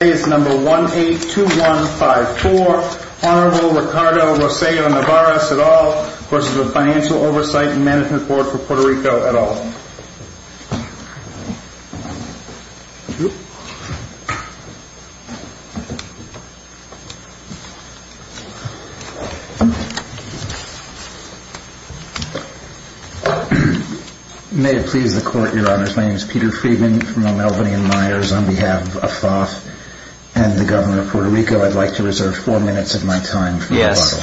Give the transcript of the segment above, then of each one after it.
Today is number 182154, Honorable Ricardo Rossello Nevares et al. Courses of Financial Oversight and Management Board for Puerto Rico et al. May it please the Court, Your Honors. My name is Peter Freedman from El Melvinian Myers on behalf of FOF and the Governor of Puerto Rico. I'd like to reserve four minutes of my time for a rebuttal.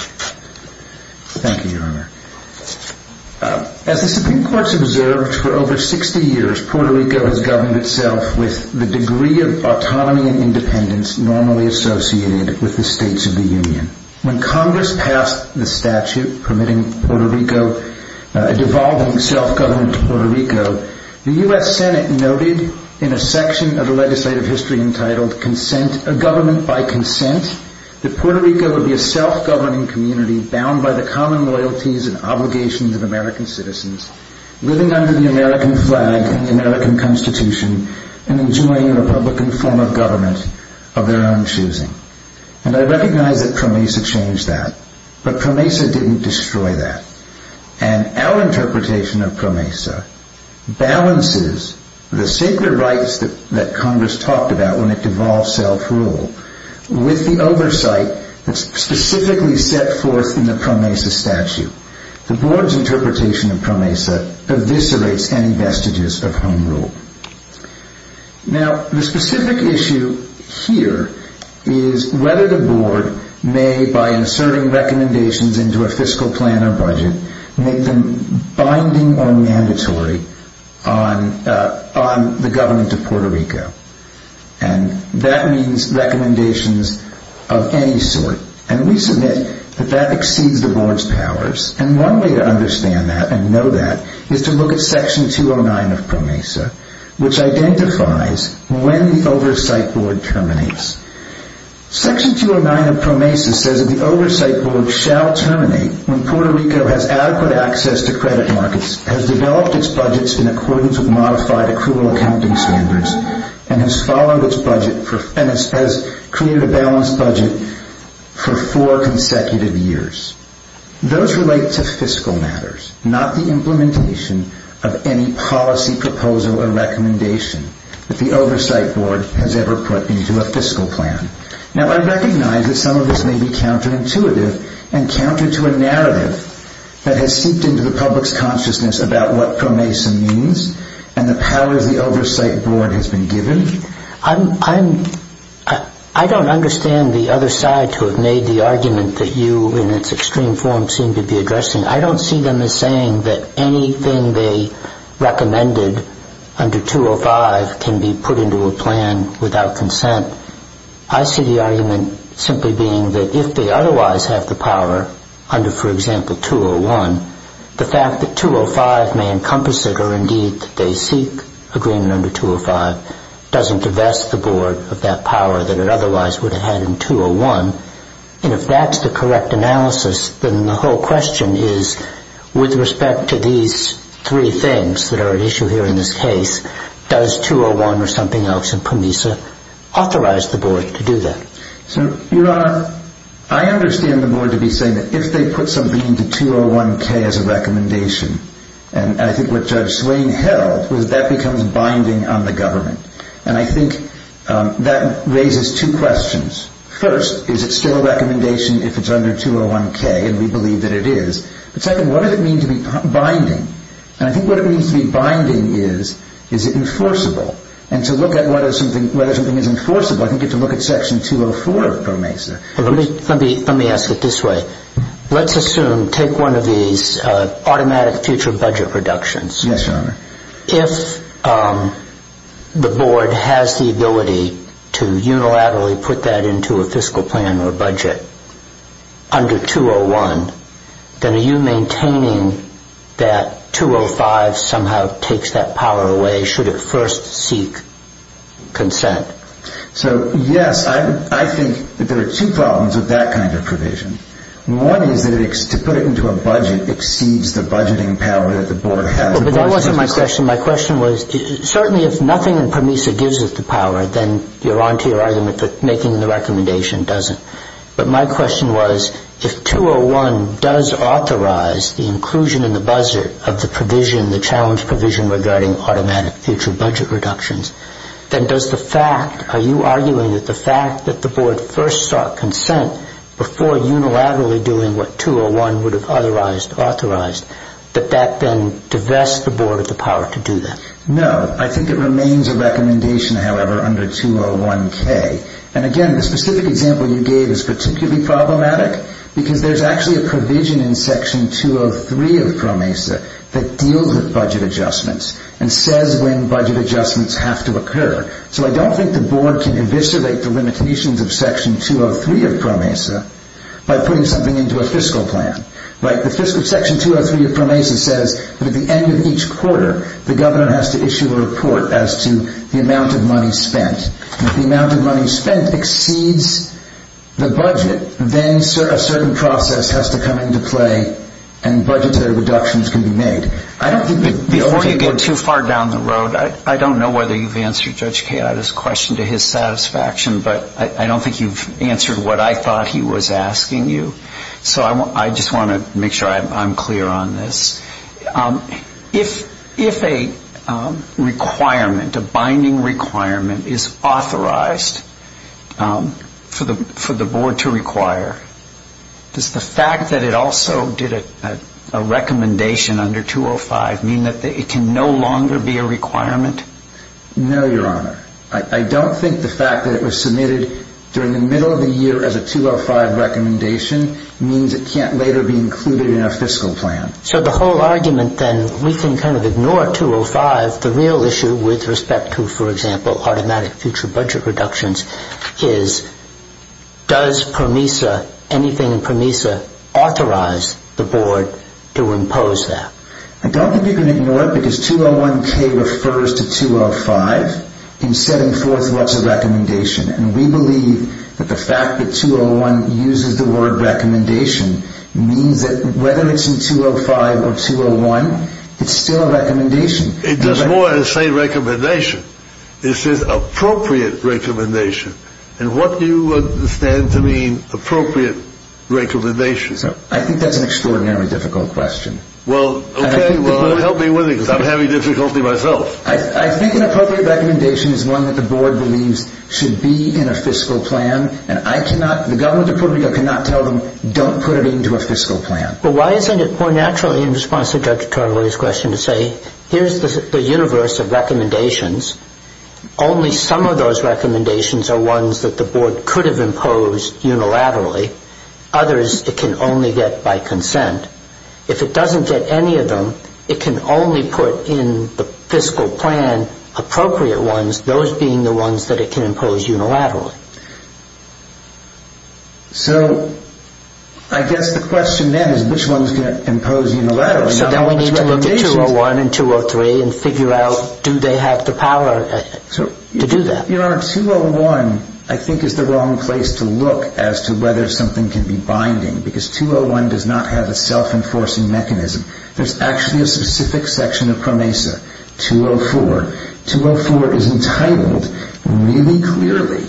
Thank you, Your Honor. As the Supreme Court has observed for over 60 years, Puerto Rico has governed itself with the degree of autonomy and independence normally associated with the states of the Union. When Congress passed the statute permitting a devolving self-government to Puerto Rico, the U.S. Senate noted in a section of the legislative history entitled Government by Consent that Puerto Rico would be a self-governing community bound by the common loyalties and obligations of American citizens, living under the American flag and the American Constitution, and enjoying a Republican form of government of their own choosing. And I recognize that PROMESA changed that, but PROMESA didn't destroy that. And our interpretation of PROMESA balances the sacred rights that Congress talked about when it devolved self-rule with the oversight that's specifically set forth in the PROMESA statute. The Board's interpretation of PROMESA eviscerates any vestiges of home rule. Now, the specific issue here is whether the Board may, by inserting recommendations into a fiscal plan or budget, make them binding or mandatory on the government of Puerto Rico. And that means recommendations of any sort. And we submit that that exceeds the Board's powers. And one way to understand that and know that is to look at Section 209 of PROMESA, which identifies when the Oversight Board terminates. Section 209 of PROMESA says that the Oversight Board shall terminate when Puerto Rico has adequate access to credit markets, has developed its budgets in accordance with modified accrual accounting standards, and has created a balanced budget for four consecutive years. Those relate to fiscal matters, not the implementation of any policy proposal or recommendation that the Oversight Board has ever put into a fiscal plan. Now, I recognize that some of this may be counterintuitive and counter to a narrative that has seeped into the public's consciousness about what PROMESA means and the powers the Oversight Board has been given. I don't understand the other side to have made the argument that you, in its extreme form, seem to be addressing. I don't see them as saying that anything they recommended under 205 can be put into a plan without consent. I see the argument simply being that if they otherwise have the power, under, for example, 201, the fact that 205 may encompass it or, indeed, that they seek agreement under 205 doesn't divest the Board of that power that it otherwise would have had in 201. And if that's the correct analysis, then the whole question is, with respect to these three things that are at issue here in this case, does 201 or something else in PROMESA authorize the Board to do that? Your Honor, I understand the Board to be saying that if they put something into 201-K as a recommendation, and I think what Judge Swain held was that becomes binding on the government. And I think that raises two questions. First, is it still a recommendation if it's under 201-K? And we believe that it is. Second, what does it mean to be binding? And I think what it means to be binding is, is it enforceable? And to look at whether something is enforceable, I think you have to look at Section 204 of PROMESA. Let me ask it this way. Let's assume, take one of these automatic future budget reductions. Yes, Your Honor. If the Board has the ability to unilaterally put that into a fiscal plan or budget under 201, then are you maintaining that 205 somehow takes that power away should it first seek consent? So, yes, I think there are two problems with that kind of provision. One is that to put it into a budget exceeds the budgeting power that the Board has. But that wasn't my question. My question was, certainly if nothing in PROMESA gives it the power, then you're on to your argument that making the recommendation doesn't. But my question was, if 201 does authorize the inclusion in the buzzer of the provision, the challenge provision regarding automatic future budget reductions, then does the fact, are you arguing that the fact that the Board first sought consent before unilaterally doing what 201 would have authorized, that that then divests the Board of the power to do that? No. I think it remains a recommendation, however, under 201K. And, again, the specific example you gave is particularly problematic because there's actually a provision in Section 203 of PROMESA that deals with budget adjustments and says when budget adjustments have to occur. So I don't think the Board can eviscerate the limitations of Section 203 of PROMESA by putting something into a fiscal plan. Section 203 of PROMESA says that at the end of each quarter, the Governor has to issue a report as to the amount of money spent. If the amount of money spent exceeds the budget, then a certain process has to come into play and budgetary reductions can be made. Before you get too far down the road, I don't know whether you've answered Judge Kayada's question to his satisfaction, but I don't think you've answered what I thought he was asking you. So I just want to make sure I'm clear on this. If a requirement, a binding requirement, is authorized for the Board to require, does the fact that it also did a recommendation under 205 mean that it can no longer be a requirement? No, Your Honor. I don't think the fact that it was submitted during the middle of the year as a 205 recommendation means it can't later be included in a fiscal plan. So the whole argument, then, we can kind of ignore 205. The real issue with respect to, for example, automatic future budget reductions is does PROMESA, anything in PROMESA, authorize the Board to impose that? I don't think you can ignore it because 201K refers to 205 in setting forth what's a recommendation. And we believe that the fact that 201 uses the word recommendation means that whether it's in 205 or 201, it's still a recommendation. It does more than say recommendation. It says appropriate recommendation. And what do you understand to mean appropriate recommendation? I think that's an extraordinarily difficult question. Well, okay, well, help me with it because I'm having difficulty myself. I think an appropriate recommendation is one that the Board believes should be in a fiscal plan. And I cannot, the Government of Puerto Rico cannot tell them don't put it into a fiscal plan. But why isn't it more naturally in response to Judge Tarullo's question to say here's the universe of recommendations. Only some of those recommendations are ones that the Board could have imposed unilaterally. Others it can only get by consent. If it doesn't get any of them, it can only put in the fiscal plan appropriate ones, those being the ones that it can impose unilaterally. So I guess the question then is which ones can it impose unilaterally? So then we need to look at 201 and 203 and figure out do they have the power to do that? Your Honor, 201 I think is the wrong place to look as to whether something can be binding because 201 does not have a self-enforcing mechanism. There's actually a specific section of PROMESA, 204. 204 is entitled really clearly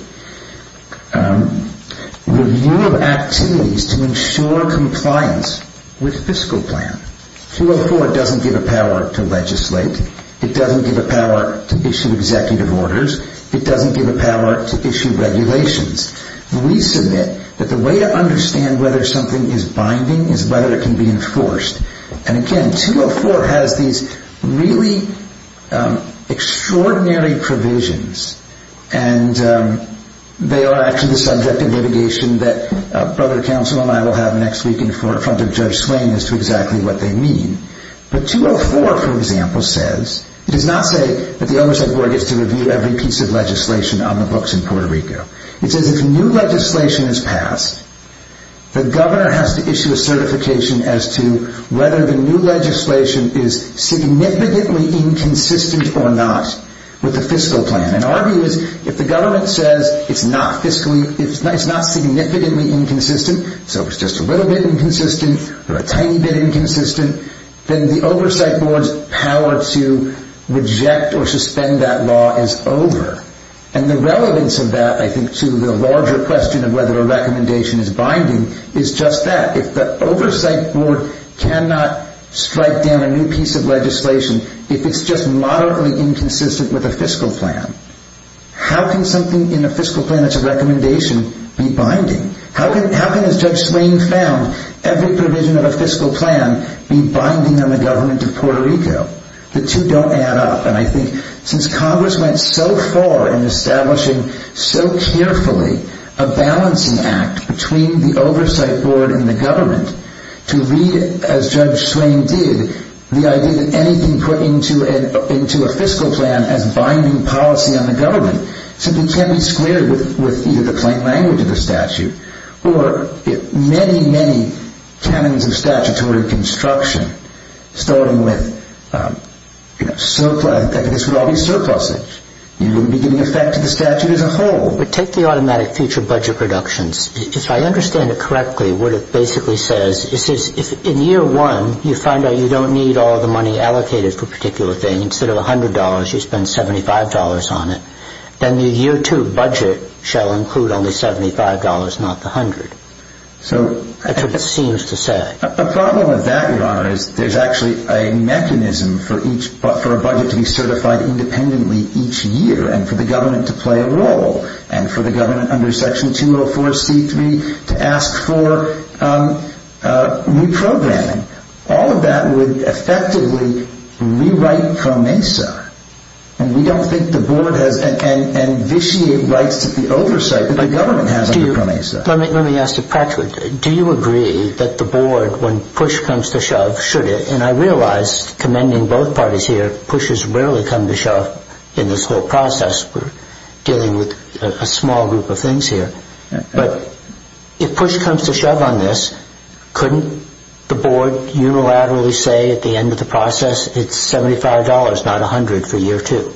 Review of Activities to Ensure Compliance with Fiscal Plan. 204 doesn't give a power to legislate. It doesn't give a power to issue executive orders. It doesn't give a power to issue regulations. We submit that the way to understand whether something is binding is whether it can be enforced. And again 204 has these really extraordinary provisions and they are actually the subject of litigation that Brother Counsel and I will have next week in front of Judge Swain as to exactly what they mean. But 204 for example says, it does not say that the Oversight Board gets to review every piece of legislation on the books in Puerto Rico. It says if new legislation is passed, the Governor has to issue a certification as to whether the new legislation is significantly inconsistent or not with the fiscal plan. And our view is if the government says it's not significantly inconsistent, so it's just a little bit inconsistent or a tiny bit inconsistent, then the Oversight Board's power to reject or suspend that law is over. And the relevance of that I think to the larger question of whether a recommendation is binding is just that. If the Oversight Board cannot strike down a new piece of legislation, if it's just moderately inconsistent with a fiscal plan, how can something in a fiscal plan that's a recommendation be binding? How can, as Judge Swain found, every provision of a fiscal plan be binding on the government of Puerto Rico? The two don't add up. And I think since Congress went so far in establishing so carefully a balancing act between the Oversight Board and the government to lead, as Judge Swain did, the idea that anything put into a fiscal plan as binding policy on the government simply can't be squared with either the plain language of the statute or many, many canons of statutory construction starting with surplus. This would all be surplusage. It would be giving effect to the statute as a whole. But take the automatic future budget reductions. If I understand it correctly, what it basically says is if in year one you find out you don't need all the money allocated for a particular thing, instead of $100 you spend $75 on it, then the year two budget shall include only $75, not the $100. That's what it seems to say. The problem with that, Your Honor, is there's actually a mechanism for a budget to be certified independently each year and for the government to play a role. And for the government under Section 204C3 to ask for reprogramming. All of that would effectively rewrite PROMESA. And we don't think the board has and vitiate rights to the oversight that the government has under PROMESA. Let me ask you, Patrick, do you agree that the board, when push comes to shove, should it? And I realize, commending both parties here, pushes rarely come to shove in this whole process dealing with a small group of things here. But if push comes to shove on this, couldn't the board unilaterally say at the end of the process it's $75, not $100 for year two?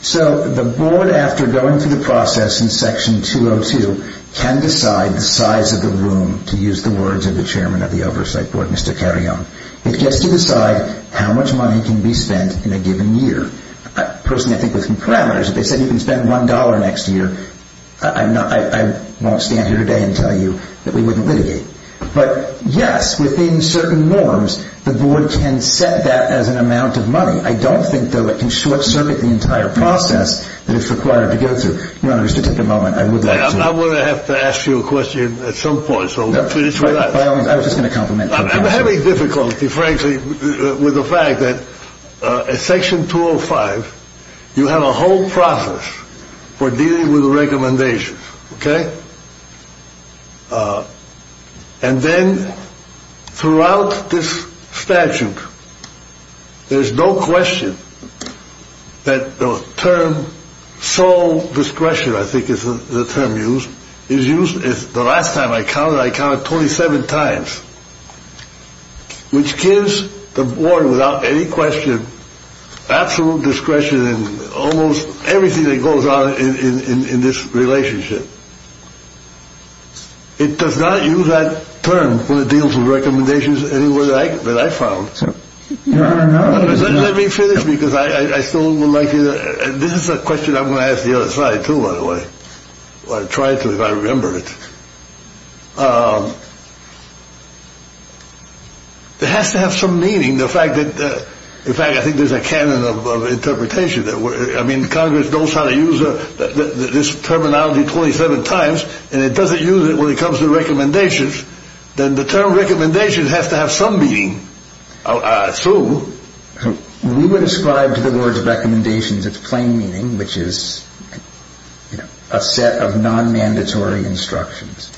So the board, after going through the process in Section 202, can decide the size of the room, to use the words of the Chairman of the Oversight Board, Mr. Carrion. It gets to decide how much money can be spent in a given year. Personally, I think with some parameters, if they said you can spend $1 next year, I won't stand here today and tell you that we wouldn't litigate. But yes, within certain norms, the board can set that as an amount of money. I don't think, though, it can short-circuit the entire process that it's required to go through. Your Honor, just to take a moment, I would like to... I'm going to have to ask you a question at some point, so let's finish with that. I was just going to compliment you. I'm having difficulty, frankly, with the fact that in Section 205, you have a whole process for dealing with the recommendations, okay? And then throughout this statute, there's no question that the term sole discretion, I think is the term used, is used... The last time I counted, I counted 27 times, which gives the board, without any question, absolute discretion in almost everything that goes on in this relationship. It does not use that term when it deals with recommendations anywhere that I found. Your Honor, no. Let me finish, because I still would like to... This is a question I'm going to ask the other side, too, by the way. I'll try to, if I remember it. It has to have some meaning, the fact that... In fact, I think there's a canon of interpretation. I mean, Congress knows how to use this terminology 27 times, and it doesn't use it when it comes to recommendations. Then the term recommendations has to have some meaning. I assume. We would ascribe to the words recommendations its plain meaning, which is a set of non-mandatory instructions.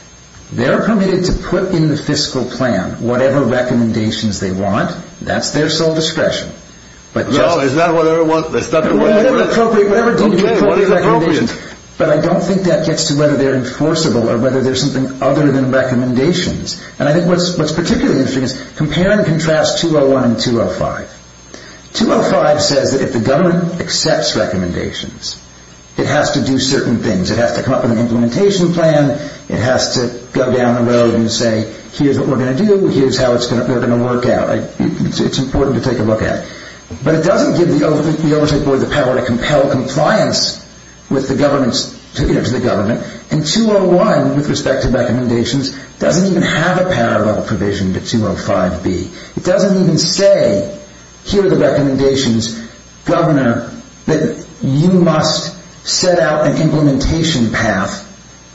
They're permitted to put in the fiscal plan whatever recommendations they want. That's their sole discretion. No, it's not whatever... Whatever deemed appropriate recommendations. But I don't think that gets to whether they're enforceable or whether they're something other than recommendations. And I think what's particularly interesting is compare and contrast 201 and 205. 205 says that if the government accepts recommendations, it has to do certain things. It has to come up with an implementation plan. It has to go down the road and say, here's what we're going to do, here's how it's going to work out. It's important to take a look at. But it doesn't give the Oversight Board the power to compel compliance with the government's... to the government. And 201, with respect to recommendations, doesn't even have a parallel provision to 205-B. It doesn't even say, here are the recommendations, Governor, that you must set out an implementation path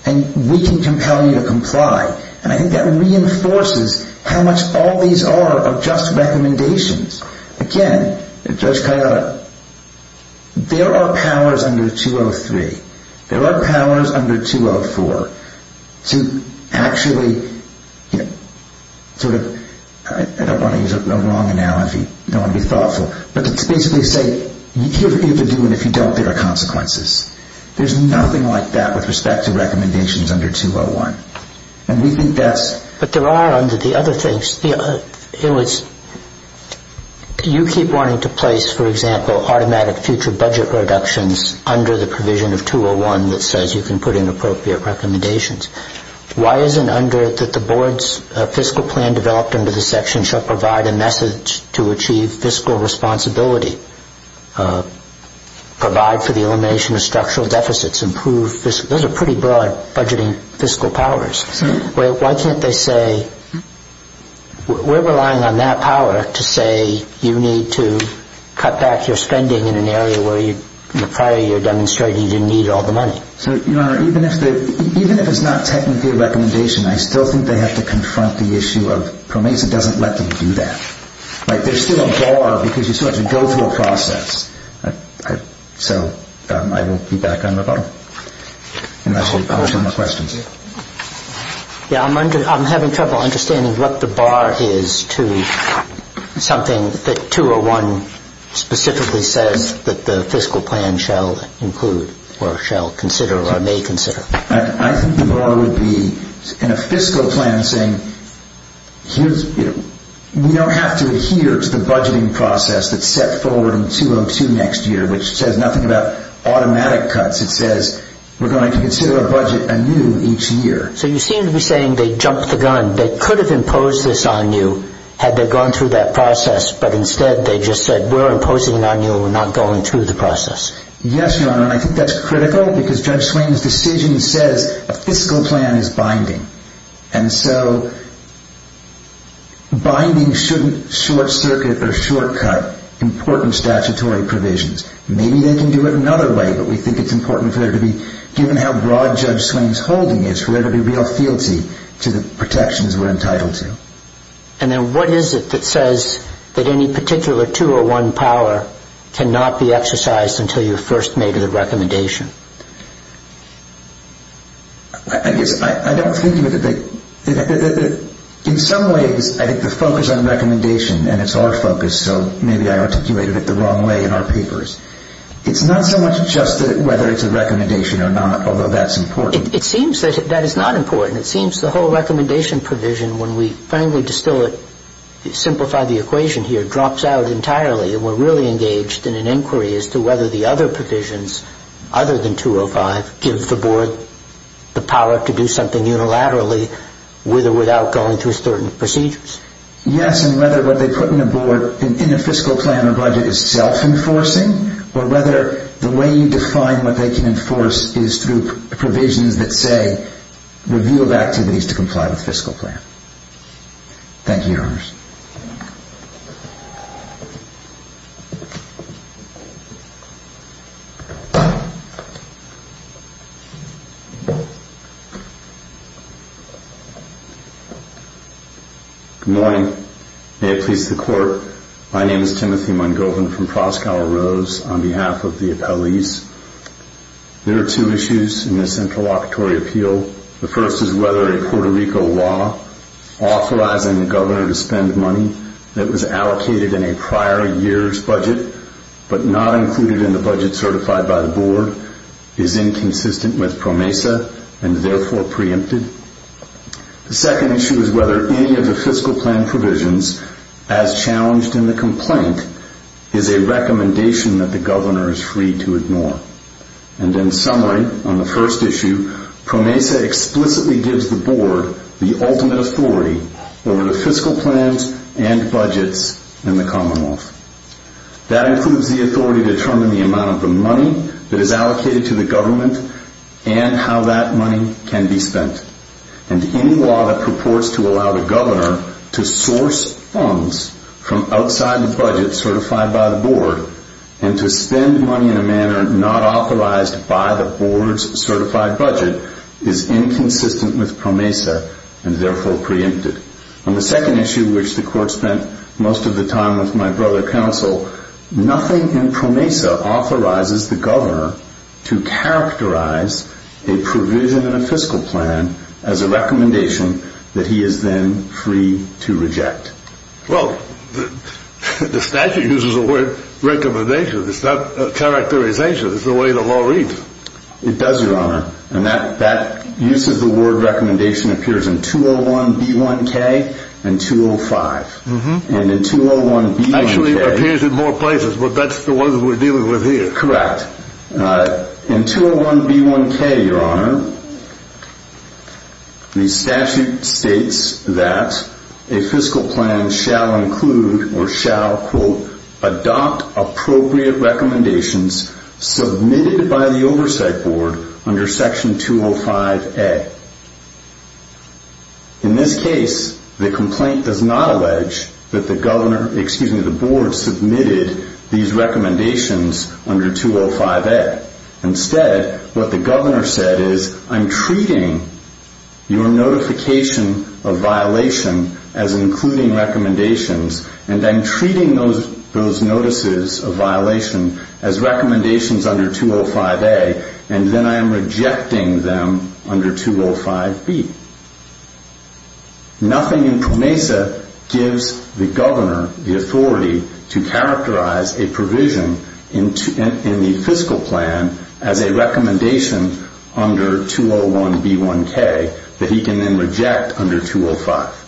and we can compel you to comply. And I think that reinforces how much all these are are just recommendations. Again, Judge Cairo, there are powers under 203. There are powers under 204 to actually sort of... I don't want to use a wrong analogy. I don't want to be thoughtful. But to basically say, here's what you have to do, and if you don't, there are consequences. There's nothing like that with respect to recommendations under 201. And we think that's... But there are under the other things. It was... you keep wanting to place, for example, automatic future budget reductions under the provision of 201 that says you can put in appropriate recommendations. Why isn't under it that the board's fiscal plan developed under the section shall provide a message to achieve fiscal responsibility, provide for the elimination of structural deficits, improve fiscal... Those are pretty broad budgeting fiscal powers. Why can't they say, we're relying on that power to say you need to cut back your spending in an area where you... The prior year demonstrated you didn't need all the money. So, Your Honor, even if it's not technically a recommendation, I still think they have to confront the issue of... PROMESA doesn't let them do that. Like, there's still a bar because you still have to go through a process. So I will be back on the bottom. And that's all the questions. Yeah, I'm having trouble understanding what the bar is to something that 201 specifically says that the fiscal plan shall include or shall consider or may consider. I think the bar would be in a fiscal plan saying, we don't have to adhere to the budgeting process that's set forward in 202 next year, which says nothing about automatic cuts. It says we're going to consider a budget anew each year. So you seem to be saying they jumped the gun. They could have imposed this on you had they gone through that process, but instead they just said we're imposing it on you and we're not going through the process. Yes, Your Honor, and I think that's critical because Judge Swain's decision says a fiscal plan is binding. And so binding shouldn't short-circuit or shortcut important statutory provisions. Maybe they can do it another way, but we think it's important for there to be... And then what is it that says that any particular 201 power cannot be exercised until you've first made the recommendation? I guess I don't think of it that way. In some ways, I think the focus on recommendation, and it's our focus, so maybe I articulated it the wrong way in our papers. It's not so much just whether it's a recommendation or not, although that's important. It seems that that is not important. It seems the whole recommendation provision, when we finally distill it, simplify the equation here, drops out entirely. And we're really engaged in an inquiry as to whether the other provisions, other than 205, give the Board the power to do something unilaterally with or without going through certain procedures. Yes, and whether what they put in the Board in a fiscal plan or budget is self-enforcing or whether the way you define what they can enforce is through provisions that say, revealed activities to comply with fiscal plan. Thank you, Your Honors. Good morning. May it please the Court. My name is Timothy Mungovin from Proskauer Rose on behalf of the appellees. There are two issues in this interlocutory appeal. The first is whether a Puerto Rico law authorizing the governor to spend money that was allocated in a prior year's budget but not included in the budget certified by the Board is inconsistent with PROMESA and therefore preempted. The second issue is whether any of the fiscal plan provisions, as challenged in the complaint, is a recommendation that the governor is free to ignore. And in summary, on the first issue, PROMESA explicitly gives the Board the ultimate authority over the fiscal plans and budgets in the Commonwealth. That includes the authority to determine the amount of the money that is allocated to the government and how that money can be spent. And any law that purports to allow the governor to source funds from outside the budget certified by the Board and to spend money in a manner not authorized by the Board's certified budget is inconsistent with PROMESA and therefore preempted. On the second issue, which the Court spent most of the time with my brother counsel, nothing in PROMESA authorizes the governor to characterize a provision in a fiscal plan as a recommendation that he is then free to reject. Well, the statute uses the word recommendation. It's not characterization. It's the way the law reads. It does, Your Honor. And that use of the word recommendation appears in 201B1K and 205. And in 201B1K... Actually, it appears in more places, but that's the ones we're dealing with here. Correct. In 201B1K, Your Honor, the statute states that a fiscal plan shall include or shall, quote, adopt appropriate recommendations submitted by the Oversight Board under Section 205A. In this case, the complaint does not allege that the Board submitted these recommendations under 205A. Instead, what the governor said is, I'm treating your notification of violation as including recommendations, and I'm treating those notices of violation as recommendations under 205A, and then I am rejecting them under 205B. Nothing in PROMESA gives the governor the authority to characterize a provision in the fiscal plan as a recommendation under 201B1K that he can then reject under 205.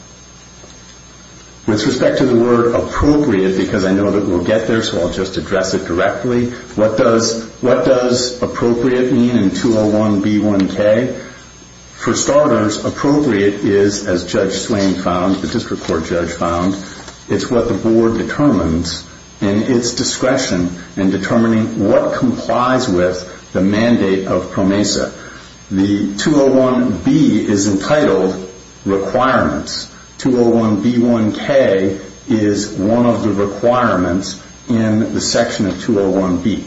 With respect to the word appropriate, because I know that we'll get there, so I'll just address it directly, what does appropriate mean in 201B1K? For starters, appropriate is, as Judge Swain found, the district court judge found, it's what the Board determines in its discretion in determining what complies with the mandate of PROMESA. The 201B is entitled requirements. 201B1K is one of the requirements in the section of 201B.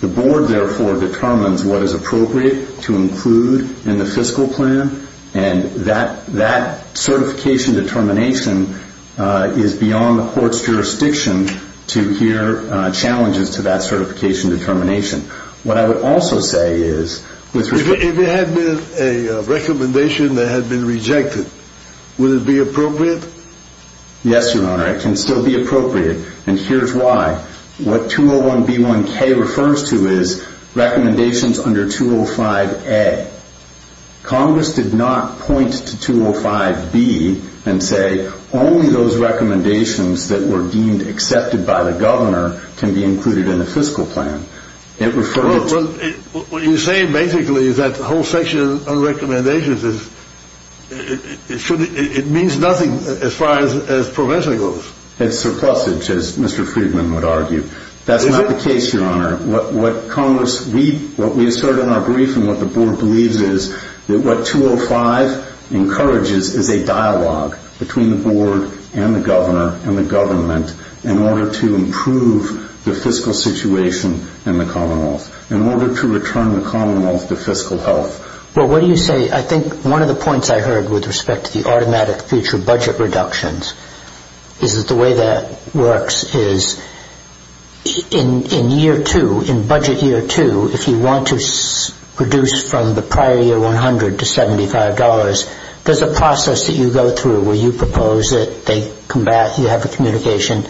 The Board, therefore, determines what is appropriate to include in the fiscal plan, and that certification determination is beyond the court's jurisdiction to hear challenges to that certification determination. What I would also say is... If it had been a recommendation that had been rejected, would it be appropriate? Yes, Your Honor, it can still be appropriate, and here's why. What 201B1K refers to is recommendations under 205A. Congress did not point to 205B and say, only those recommendations that were deemed accepted by the governor can be included in the fiscal plan. It referred to... What you're saying, basically, is that the whole section on recommendations is... It means nothing as far as PROMESA goes. It's surplusage, as Mr. Friedman would argue. That's not the case, Your Honor. What Congress... What we assert in our brief and what the Board believes is that what 205 encourages is a dialogue between the Board and the governor and the government in order to improve the fiscal situation in the Commonwealth, in order to return the Commonwealth to fiscal health. Well, what do you say... I think one of the points I heard with respect to the automatic future budget reductions is that the way that works is in year two, in budget year two, if you want to reduce from the prior year 100 to $75, there's a process that you go through where you propose it, you have the communication,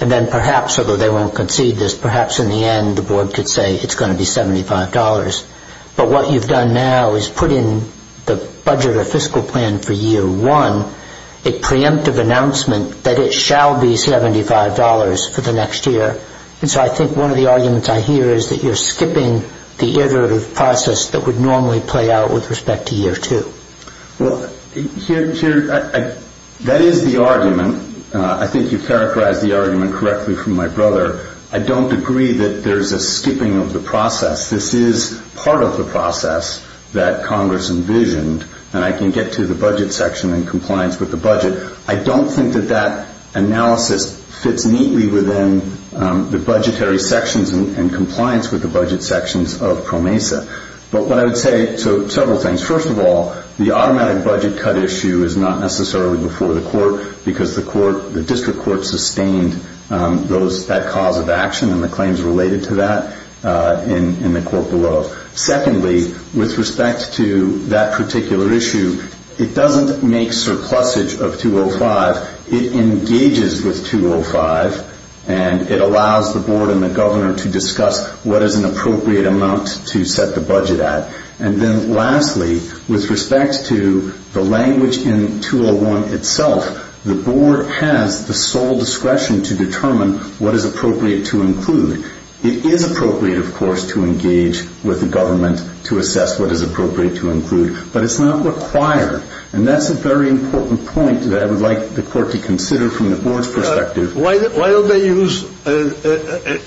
and then perhaps, although they won't concede this, perhaps in the end the Board could say it's going to be $75. But what you've done now is put in the budget or fiscal plan for year one a preemptive announcement that it shall be $75 for the next year. And so I think one of the arguments I hear is that you're skipping the iterative process that would normally play out with respect to year two. Well, that is the argument. I think you've characterized the argument correctly from my brother. I don't agree that there's a skipping of the process. This is part of the process that Congress envisioned, and I can get to the budget section and compliance with the budget. I don't think that that analysis fits neatly within the budgetary sections and compliance with the budget sections of PROMESA. But what I would say, so several things. First of all, the automatic budget cut issue is not necessarily before the court because the district court sustained that cause of action and the claims related to that in the court below. Secondly, with respect to that particular issue, it doesn't make surplusage of $205. It engages with $205, and it allows the board and the governor to discuss what is an appropriate amount to set the budget at. And then lastly, with respect to the language in $201 itself, the board has the sole discretion to determine what is appropriate to include. It is appropriate, of course, to engage with the government to assess what is appropriate to include. But it's not required, and that's a very important point that I would like the court to consider from the board's perspective. Why don't they use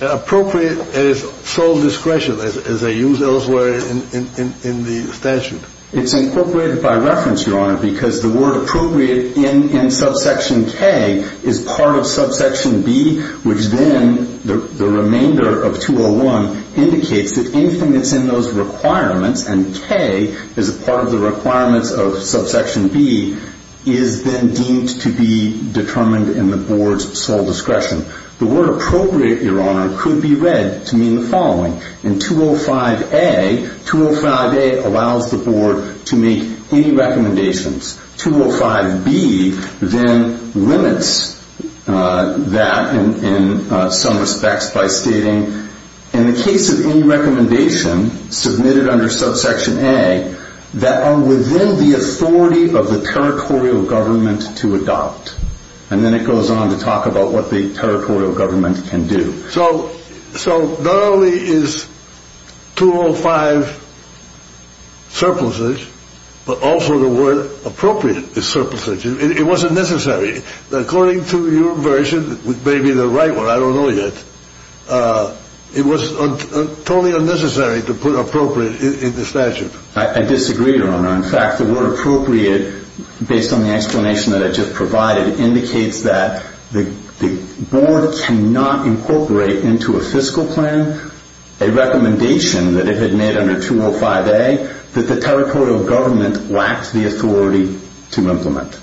appropriate as sole discretion as they use elsewhere in the statute? It's incorporated by reference, Your Honor, because the word appropriate in subsection K is part of subsection B, which then the remainder of 201 indicates that anything that's in those requirements, and K is a part of the requirements of subsection B, is then deemed to be determined in the board's sole discretion. The word appropriate, Your Honor, could be read to mean the following. In 205A, 205A allows the board to make any recommendations. 205B then limits that in some respects by stating, in the case of any recommendation submitted under subsection A that are within the authority of the territorial government to adopt. And then it goes on to talk about what the territorial government can do. So not only is 205 surplusage, but also the word appropriate is surplusage. It wasn't necessary. According to your version, which may be the right one, I don't know yet, it was totally unnecessary to put appropriate in the statute. I disagree, Your Honor. In fact, the word appropriate, based on the explanation that I just provided, indicates that the board cannot incorporate into a fiscal plan a recommendation that it had made under 205A that the territorial government lacked the authority to implement.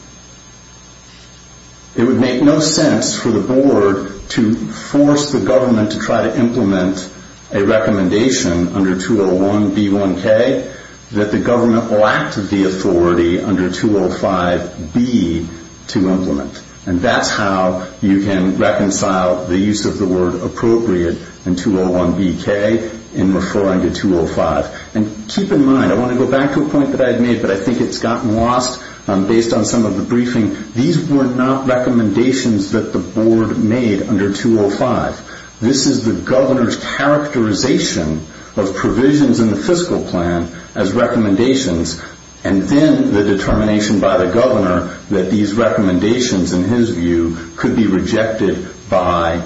It would make no sense for the board to force the government to try to implement a recommendation under 201B1K that the government lacked the authority under 205B to implement. And that's how you can reconcile the use of the word appropriate in 201BK in referring to 205. And keep in mind, I want to go back to a point that I had made, but I think it's gotten lost based on some of the briefing. These were not recommendations that the board made under 205. This is the governor's characterization of provisions in the fiscal plan as recommendations, and then the determination by the governor that these recommendations, in his view, could be rejected by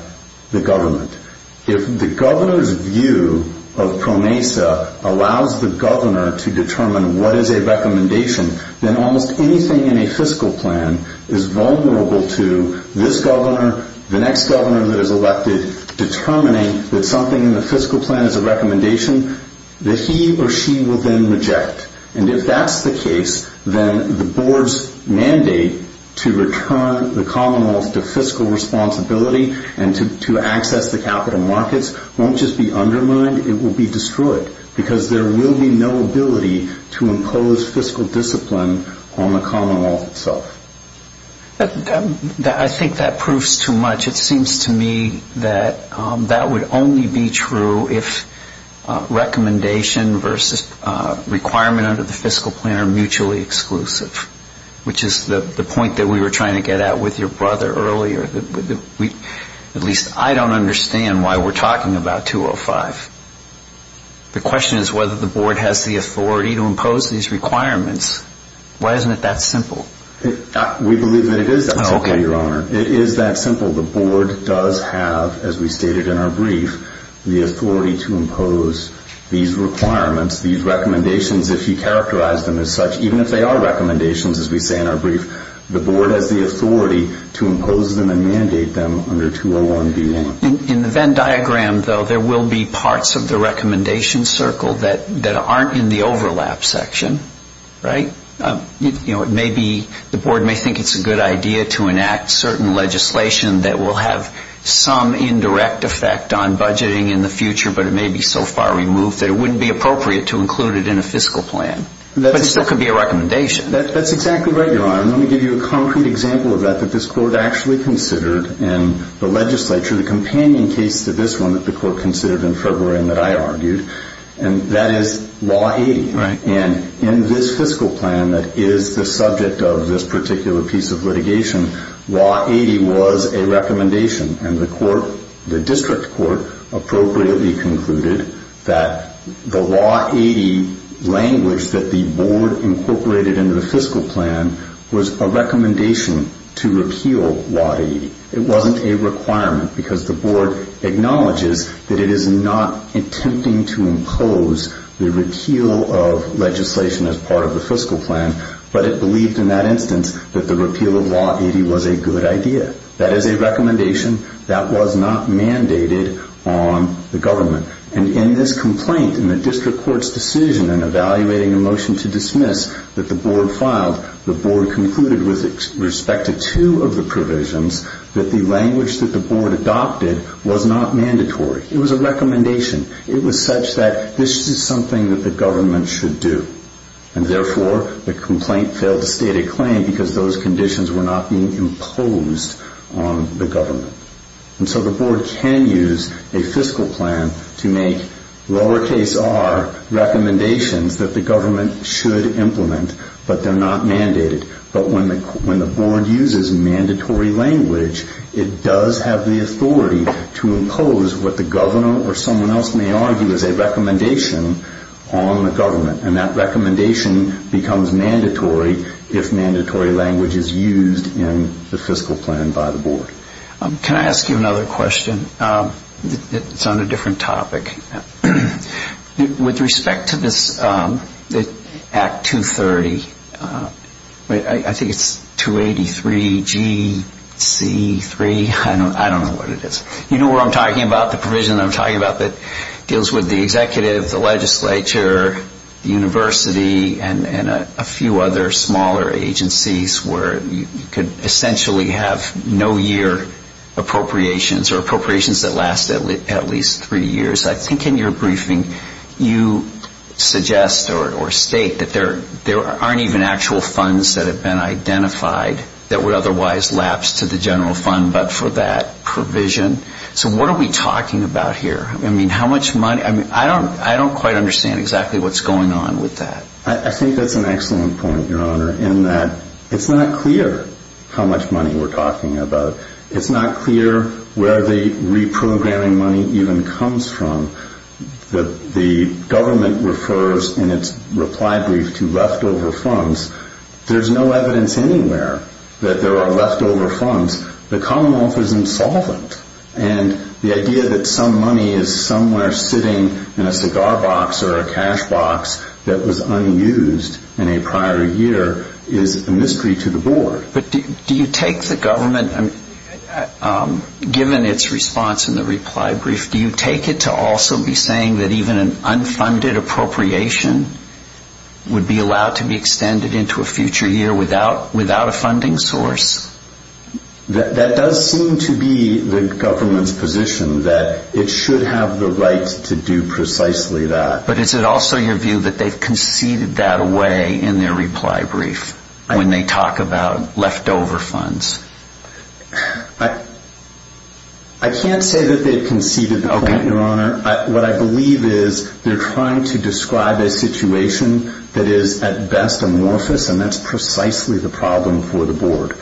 the government. If the governor's view of PROMESA allows the governor to determine what is a recommendation, then almost anything in a fiscal plan is vulnerable to this governor, the next governor that is elected, determining that something in the fiscal plan is a recommendation that he or she will then reject. And if that's the case, then the board's mandate to return the Commonwealth to fiscal responsibility and to access the capital markets won't just be undermined, it will be destroyed, because there will be no ability to impose fiscal discipline on the Commonwealth itself. I think that proves too much. It seems to me that that would only be true if recommendation versus requirement under the fiscal plan are mutually exclusive, which is the point that we were trying to get at with your brother earlier. At least I don't understand why we're talking about 205. The question is whether the board has the authority to impose these requirements. Why isn't it that simple? We believe that it is that simple, Your Honor. It is that simple. The board does have, as we stated in our brief, the authority to impose these requirements, these recommendations, if you characterize them as such. Even if they are recommendations, as we say in our brief, the board has the authority to impose them and mandate them under 201B1. In the Venn diagram, though, there will be parts of the recommendation circle that aren't in the overlap section, right? You know, it may be the board may think it's a good idea to enact certain legislation that will have some indirect effect on budgeting in the future, but it may be so far removed that it wouldn't be appropriate to include it in a fiscal plan, but it still could be a recommendation. That's exactly right, Your Honor. Let me give you a concrete example of that that this court actually considered in the legislature, the companion case to this one that the court considered in February and that I argued, and that is Law 80. Right. And in this fiscal plan that is the subject of this particular piece of litigation, Law 80 was a recommendation, and the court, the district court, appropriately concluded that the Law 80 language that the board incorporated in the fiscal plan was a recommendation to repeal Law 80. It wasn't a requirement because the board acknowledges that it is not attempting to impose the repeal of legislation as part of the fiscal plan, but it believed in that instance that the repeal of Law 80 was a good idea. That is a recommendation that was not mandated on the government. And in this complaint, in the district court's decision in evaluating a motion to dismiss that the board filed, the board concluded with respect to two of the provisions that the language that the board adopted was not mandatory. It was a recommendation. It was such that this is something that the government should do. And therefore, the complaint failed to state a claim because those conditions were not being imposed on the government. And so the board can use a fiscal plan to make lowercase r recommendations that the government should implement, but they're not mandated. But when the board uses mandatory language, it does have the authority to impose what the governor or someone else may argue is a recommendation on the government. And that recommendation becomes mandatory if mandatory language is used in the fiscal plan by the board. Can I ask you another question? It's on a different topic. With respect to this Act 230, I think it's 283GC3. I don't know what it is. You know what I'm talking about, the provision I'm talking about that deals with the executive, the legislature, the university, and a few other smaller agencies where you could essentially have no-year appropriations or appropriations that last at least three years. I think in your briefing you suggest or state that there aren't even actual funds that have been identified that would otherwise lapse to the general fund but for that provision. So what are we talking about here? I mean, how much money? I mean, I don't quite understand exactly what's going on with that. I think that's an excellent point, Your Honor, in that it's not clear how much money we're talking about. It's not clear where the reprogramming money even comes from. The government refers in its reply brief to leftover funds. There's no evidence anywhere that there are leftover funds. The Commonwealth is insolvent, and the idea that some money is somewhere sitting in a cigar box or a cash box that was unused in a prior year is a mystery to the board. But do you take the government, given its response in the reply brief, do you take it to also be saying that even an unfunded appropriation would be allowed to be extended into a future year without a funding source? That does seem to be the government's position, that it should have the right to do precisely that. But is it also your view that they've conceded that away in their reply brief when they talk about leftover funds? I can't say that they've conceded that away, Your Honor. What I believe is they're trying to describe a situation that is at best amorphous, and that's precisely the problem for the board.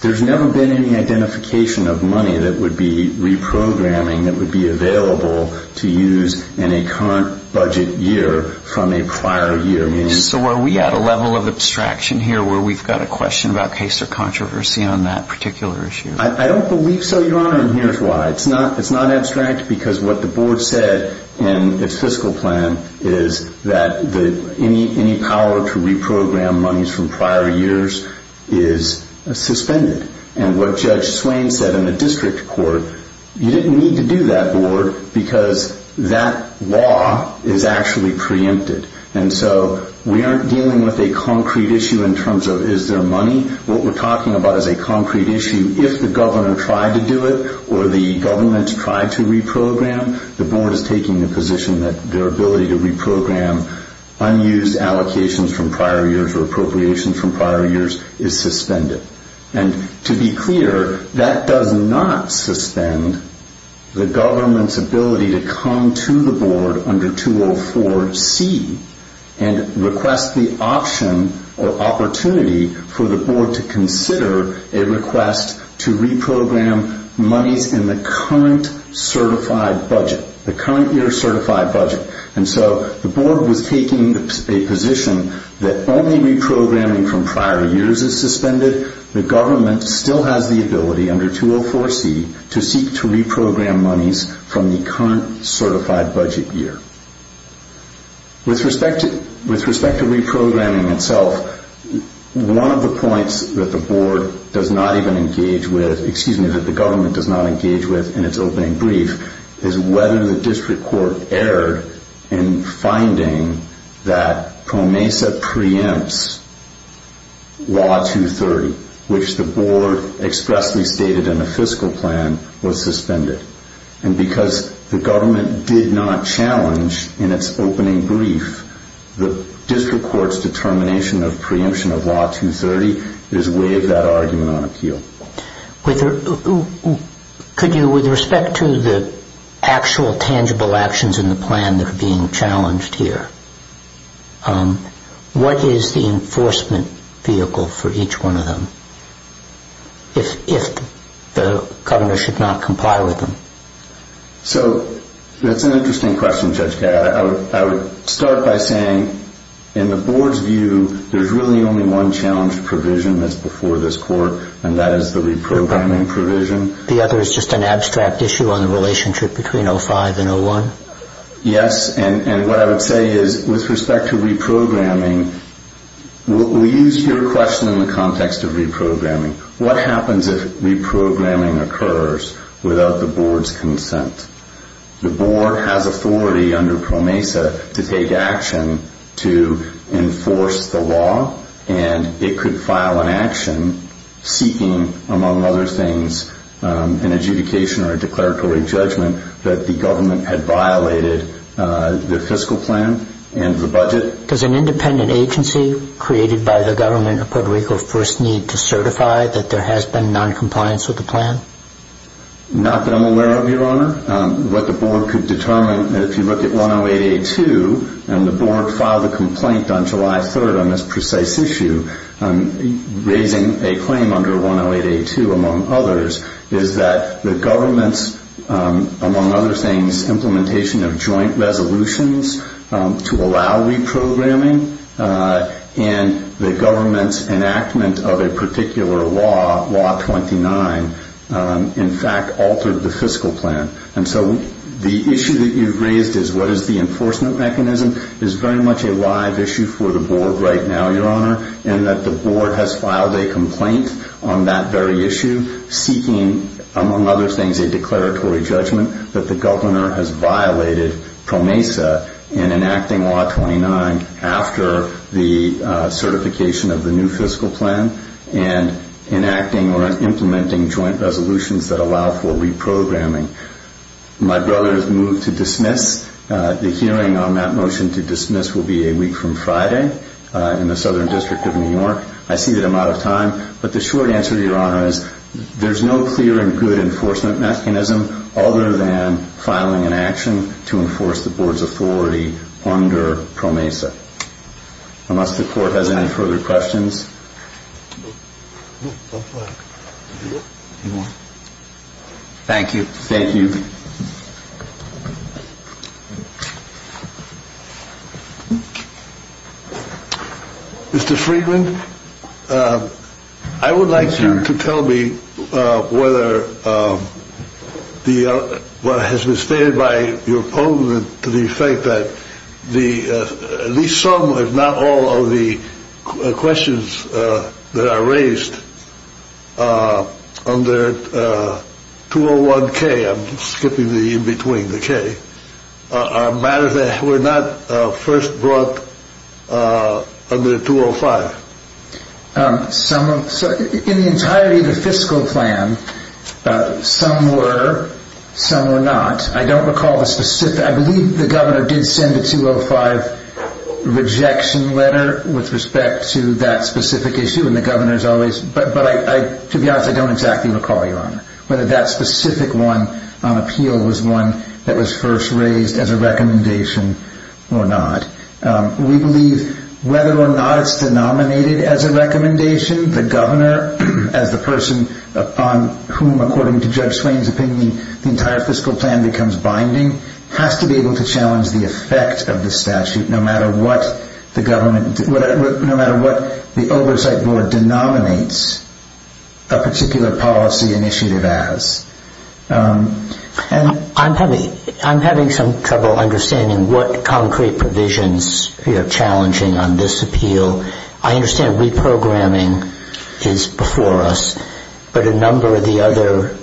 There's never been any identification of money that would be reprogramming that would be available to use in a current budget year from a prior year. So are we at a level of abstraction here where we've got a question about case or controversy on that particular issue? I don't believe so, Your Honor, and here's why. It's not abstract because what the board said in its fiscal plan is that any power to reprogram monies from prior years is suspended. And what Judge Swain said in the district court, you didn't need to do that, Lord, because that law is actually preempted. And so we aren't dealing with a concrete issue in terms of is there money. What we're talking about is a concrete issue. If the governor tried to do it or the government tried to reprogram, the board is taking the position that their ability to reprogram unused allocations from prior years or appropriations from prior years is suspended. And to be clear, that does not suspend the government's ability to come to the board under 204C and request the option or opportunity for the board to consider a request to reprogram monies in the current certified budget, the current year certified budget. And so the board was taking a position that only reprogramming from prior years is suspended. The government still has the ability under 204C to seek to reprogram monies from the current certified budget year. With respect to reprogramming itself, one of the points that the board does not even engage with, excuse me, that the government does not engage with in its opening brief, is whether the district court erred in finding that PROMESA preempts Law 230, which the board expressly stated in the fiscal plan, was suspended. And because the government did not challenge in its opening brief, the district court's determination of preemption of Law 230 is way of that argument on appeal. Could you, with respect to the actual tangible actions in the plan that are being challenged here, what is the enforcement vehicle for each one of them if the governor should not comply with them? So that's an interesting question, Judge Gatt. I would start by saying in the board's view there's really only one challenge provision that's before this court, and that is the reprogramming provision. The other is just an abstract issue on the relationship between 05 and 01? Yes, and what I would say is with respect to reprogramming, we use your question in the context of reprogramming. What happens if reprogramming occurs without the board's consent? The board has authority under PROMESA to take action to enforce the law, and it could file an action seeking, among other things, an adjudication or a declaratory judgment that the government had violated the fiscal plan and the budget. Does an independent agency created by the government of Puerto Rico first need to certify that there has been noncompliance with the plan? Not that I'm aware of, Your Honor. What the board could determine, if you look at 108A2, and the board filed a complaint on July 3rd on this precise issue, raising a claim under 108A2, among others, is that the government's, among other things, implementation of joint resolutions to allow reprogramming and the government's enactment of a particular law, Law 29, in fact altered the fiscal plan. And so the issue that you've raised is what is the enforcement mechanism is very much a live issue for the board right now, Your Honor, and that the board has filed a complaint on that very issue seeking, among other things, a declaratory judgment that the governor has violated PROMESA in enacting Law 29 after the certification of the new fiscal plan and enacting or implementing joint resolutions that allow for reprogramming. My brother has moved to dismiss. The hearing on that motion to dismiss will be a week from Friday in the Southern District of New York. I see that I'm out of time, but the short answer to Your Honor is there's no clear and good enforcement mechanism other than filing an action to enforce the board's authority under PROMESA. Unless the court has any further questions. Thank you. Thank you. Mr. Friedman, I would like you to tell me whether the what has been stated by your opponent to the effect that the at least some, if not all, of the questions that are raised under 201K, I'm skipping the in-between, the K, are matters that were not first brought under 205. In the entirety of the fiscal plan, some were, some were not. I don't recall the specific, I believe the governor did send a 205 rejection letter with respect to that specific issue and the governor's always, but to be honest, I don't exactly recall, Your Honor, whether that specific one on appeal was one that was first raised as a recommendation or not. We believe whether or not it's denominated as a recommendation, the governor, as the person on whom, according to Judge Swain's opinion, the entire fiscal plan becomes binding, has to be able to challenge the effect of the statute no matter what the government, no matter what the oversight board denominates a particular policy initiative as. I'm having some trouble understanding what concrete provisions are challenging on this appeal. I understand reprogramming is before us, but a number of the other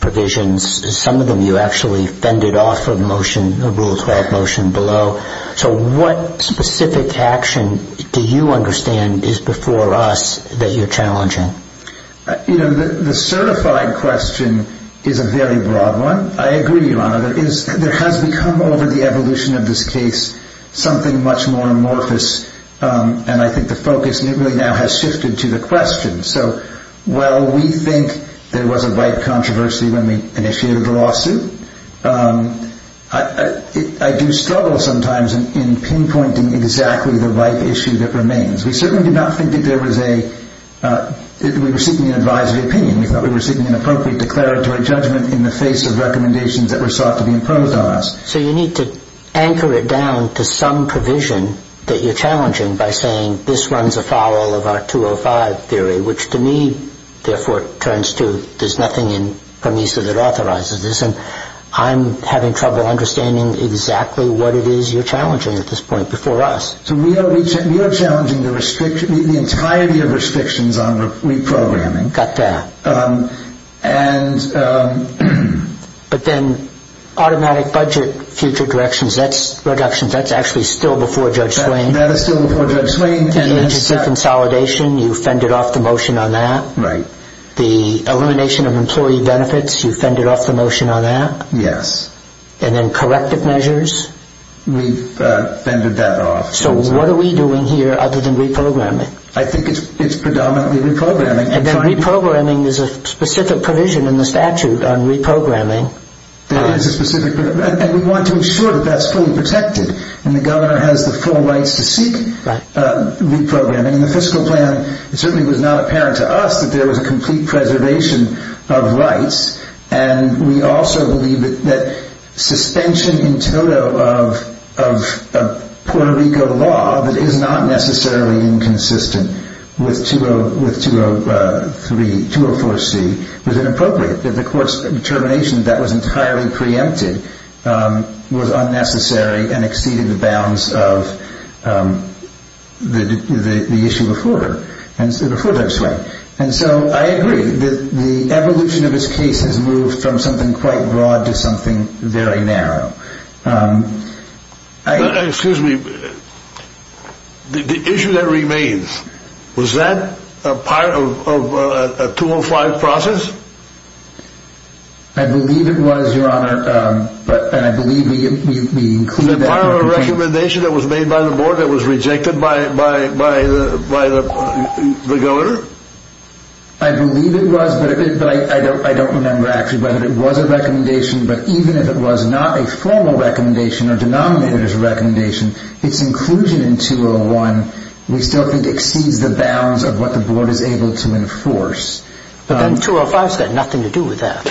provisions, some of them you actually fended off of the motion, the Rule 12 motion below. So what specific action do you understand is before us that you're challenging? The certified question is a very broad one. I agree, Your Honor, there has become over the evolution of this case something much more amorphous and I think the focus really now has shifted to the question. So while we think there was a VIPE controversy when we initiated the lawsuit, I do struggle sometimes in pinpointing exactly the VIPE issue that remains. We certainly did not think that there was a—we were seeking an advisory opinion. We thought we were seeking an appropriate declaratory judgment in the face of recommendations that were sought to be imposed on us. So you need to anchor it down to some provision that you're challenging by saying this runs afoul of our 205 theory, which to me, therefore, turns to there's nothing in PROMISA that authorizes this, and I'm having trouble understanding exactly what it is you're challenging at this point before us. So we are challenging the entirety of restrictions on reprogramming. Got that. And— But then automatic budget future directions, that's reductions. That's actually still before Judge Swain. That is still before Judge Swain. The agency consolidation, you fended off the motion on that. Right. The elimination of employee benefits, you fended off the motion on that. Yes. And then corrective measures. We fended that off. So what are we doing here other than reprogramming? I think it's predominantly reprogramming. And then reprogramming is a specific provision in the statute on reprogramming. It is a specific provision, and we want to ensure that that's fully protected, and the governor has the full rights to seek reprogramming. In the fiscal plan, it certainly was not apparent to us that there was a complete preservation of rights, and we also believe that suspension in toto of Puerto Rico law that is not necessarily inconsistent with 204C was inappropriate, that the court's determination that that was entirely preempted was unnecessary and exceeded the bounds of the issue before Judge Swain. And so I agree that the evolution of this case has moved from something quite broad to something very narrow. Excuse me. The issue that remains, was that a part of a 205 process? I believe it was, Your Honor, and I believe we include that. Was it part of a recommendation that was made by the board that was rejected by the governor? I believe it was, but I don't remember actually whether it was a recommendation, but even if it was not a formal recommendation or denominated as a recommendation, its inclusion in 201 we still think exceeds the bounds of what the board is able to enforce. But then 205's got nothing to do with that.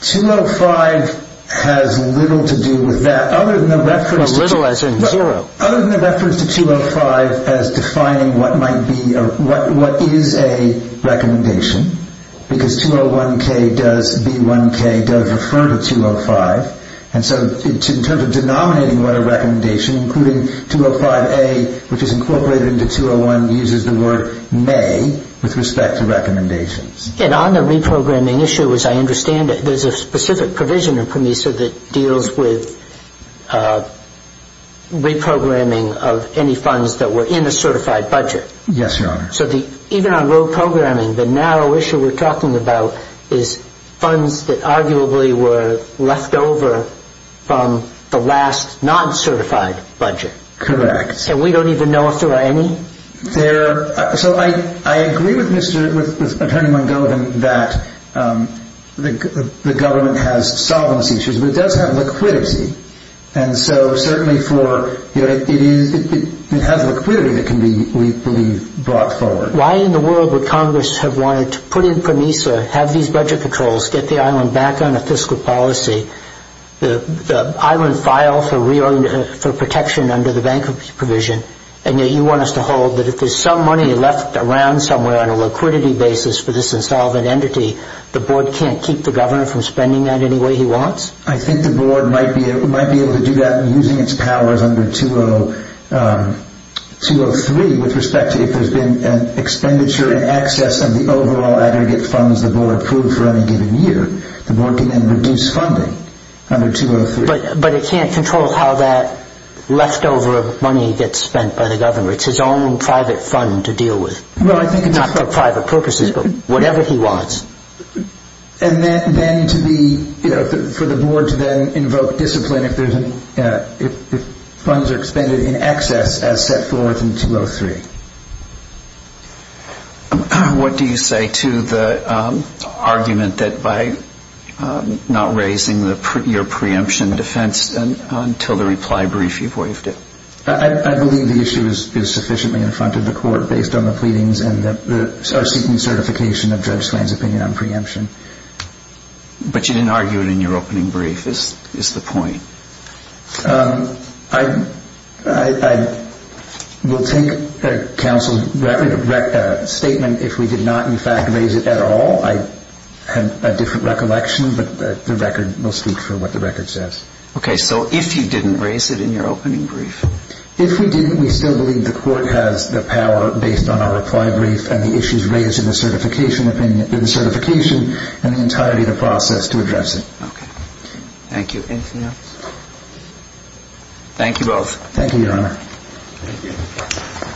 205 has little to do with that, other than the reference to 205 as defining what is a recommendation, because 201K does, B1K does refer to 205, and so in terms of denominating what a recommendation, including 205A, which is incorporated into 201, uses the word may with respect to recommendations. And on the reprogramming issue, as I understand it, there's a specific provision in PROMESA that deals with reprogramming of any funds that were in a certified budget. Yes, Your Honor. So even on low programming, the narrow issue we're talking about is funds that arguably were left over from the last non-certified budget. Correct. And we don't even know if there are any? So I agree with Attorney McGovern that the government has solvency issues, but it does have liquidity. And so certainly it has liquidity that can be, we believe, brought forward. Why in the world would Congress have wanted to put in PROMESA, have these budget controls, get the island back on a fiscal policy, the island filed for protection under the bankruptcy provision, and yet you want us to hold that if there's some money left around somewhere on a liquidity basis for this insolvent entity, the board can't keep the governor from spending that any way he wants? I think the board might be able to do that using its powers under 203 with respect to if there's been an expenditure in excess of the overall aggregate funds the board approved for any given year. The board can then reduce funding under 203. But it can't control how that leftover money gets spent by the governor. It's his own private fund to deal with, not for private purposes, but whatever he wants. And then to be, for the board to then invoke discipline if funds are expended in excess as set forth in 203. What do you say to the argument that by not raising your preemption defense until the reply brief you've waived it? I believe the issue is sufficiently in front of the court based on the pleadings and our seeking certification of Judge Swain's opinion on preemption. But you didn't argue it in your opening brief is the point. I will take counsel's statement if we did not, in fact, raise it at all. I have a different recollection, but the record will speak for what the record says. Okay, so if you didn't raise it in your opening brief? If we didn't, we still believe the court has the power based on our reply brief and the issues raised in the certification and the entirety of the process to address it. Okay, thank you. Anything else? Thank you, Your Honor.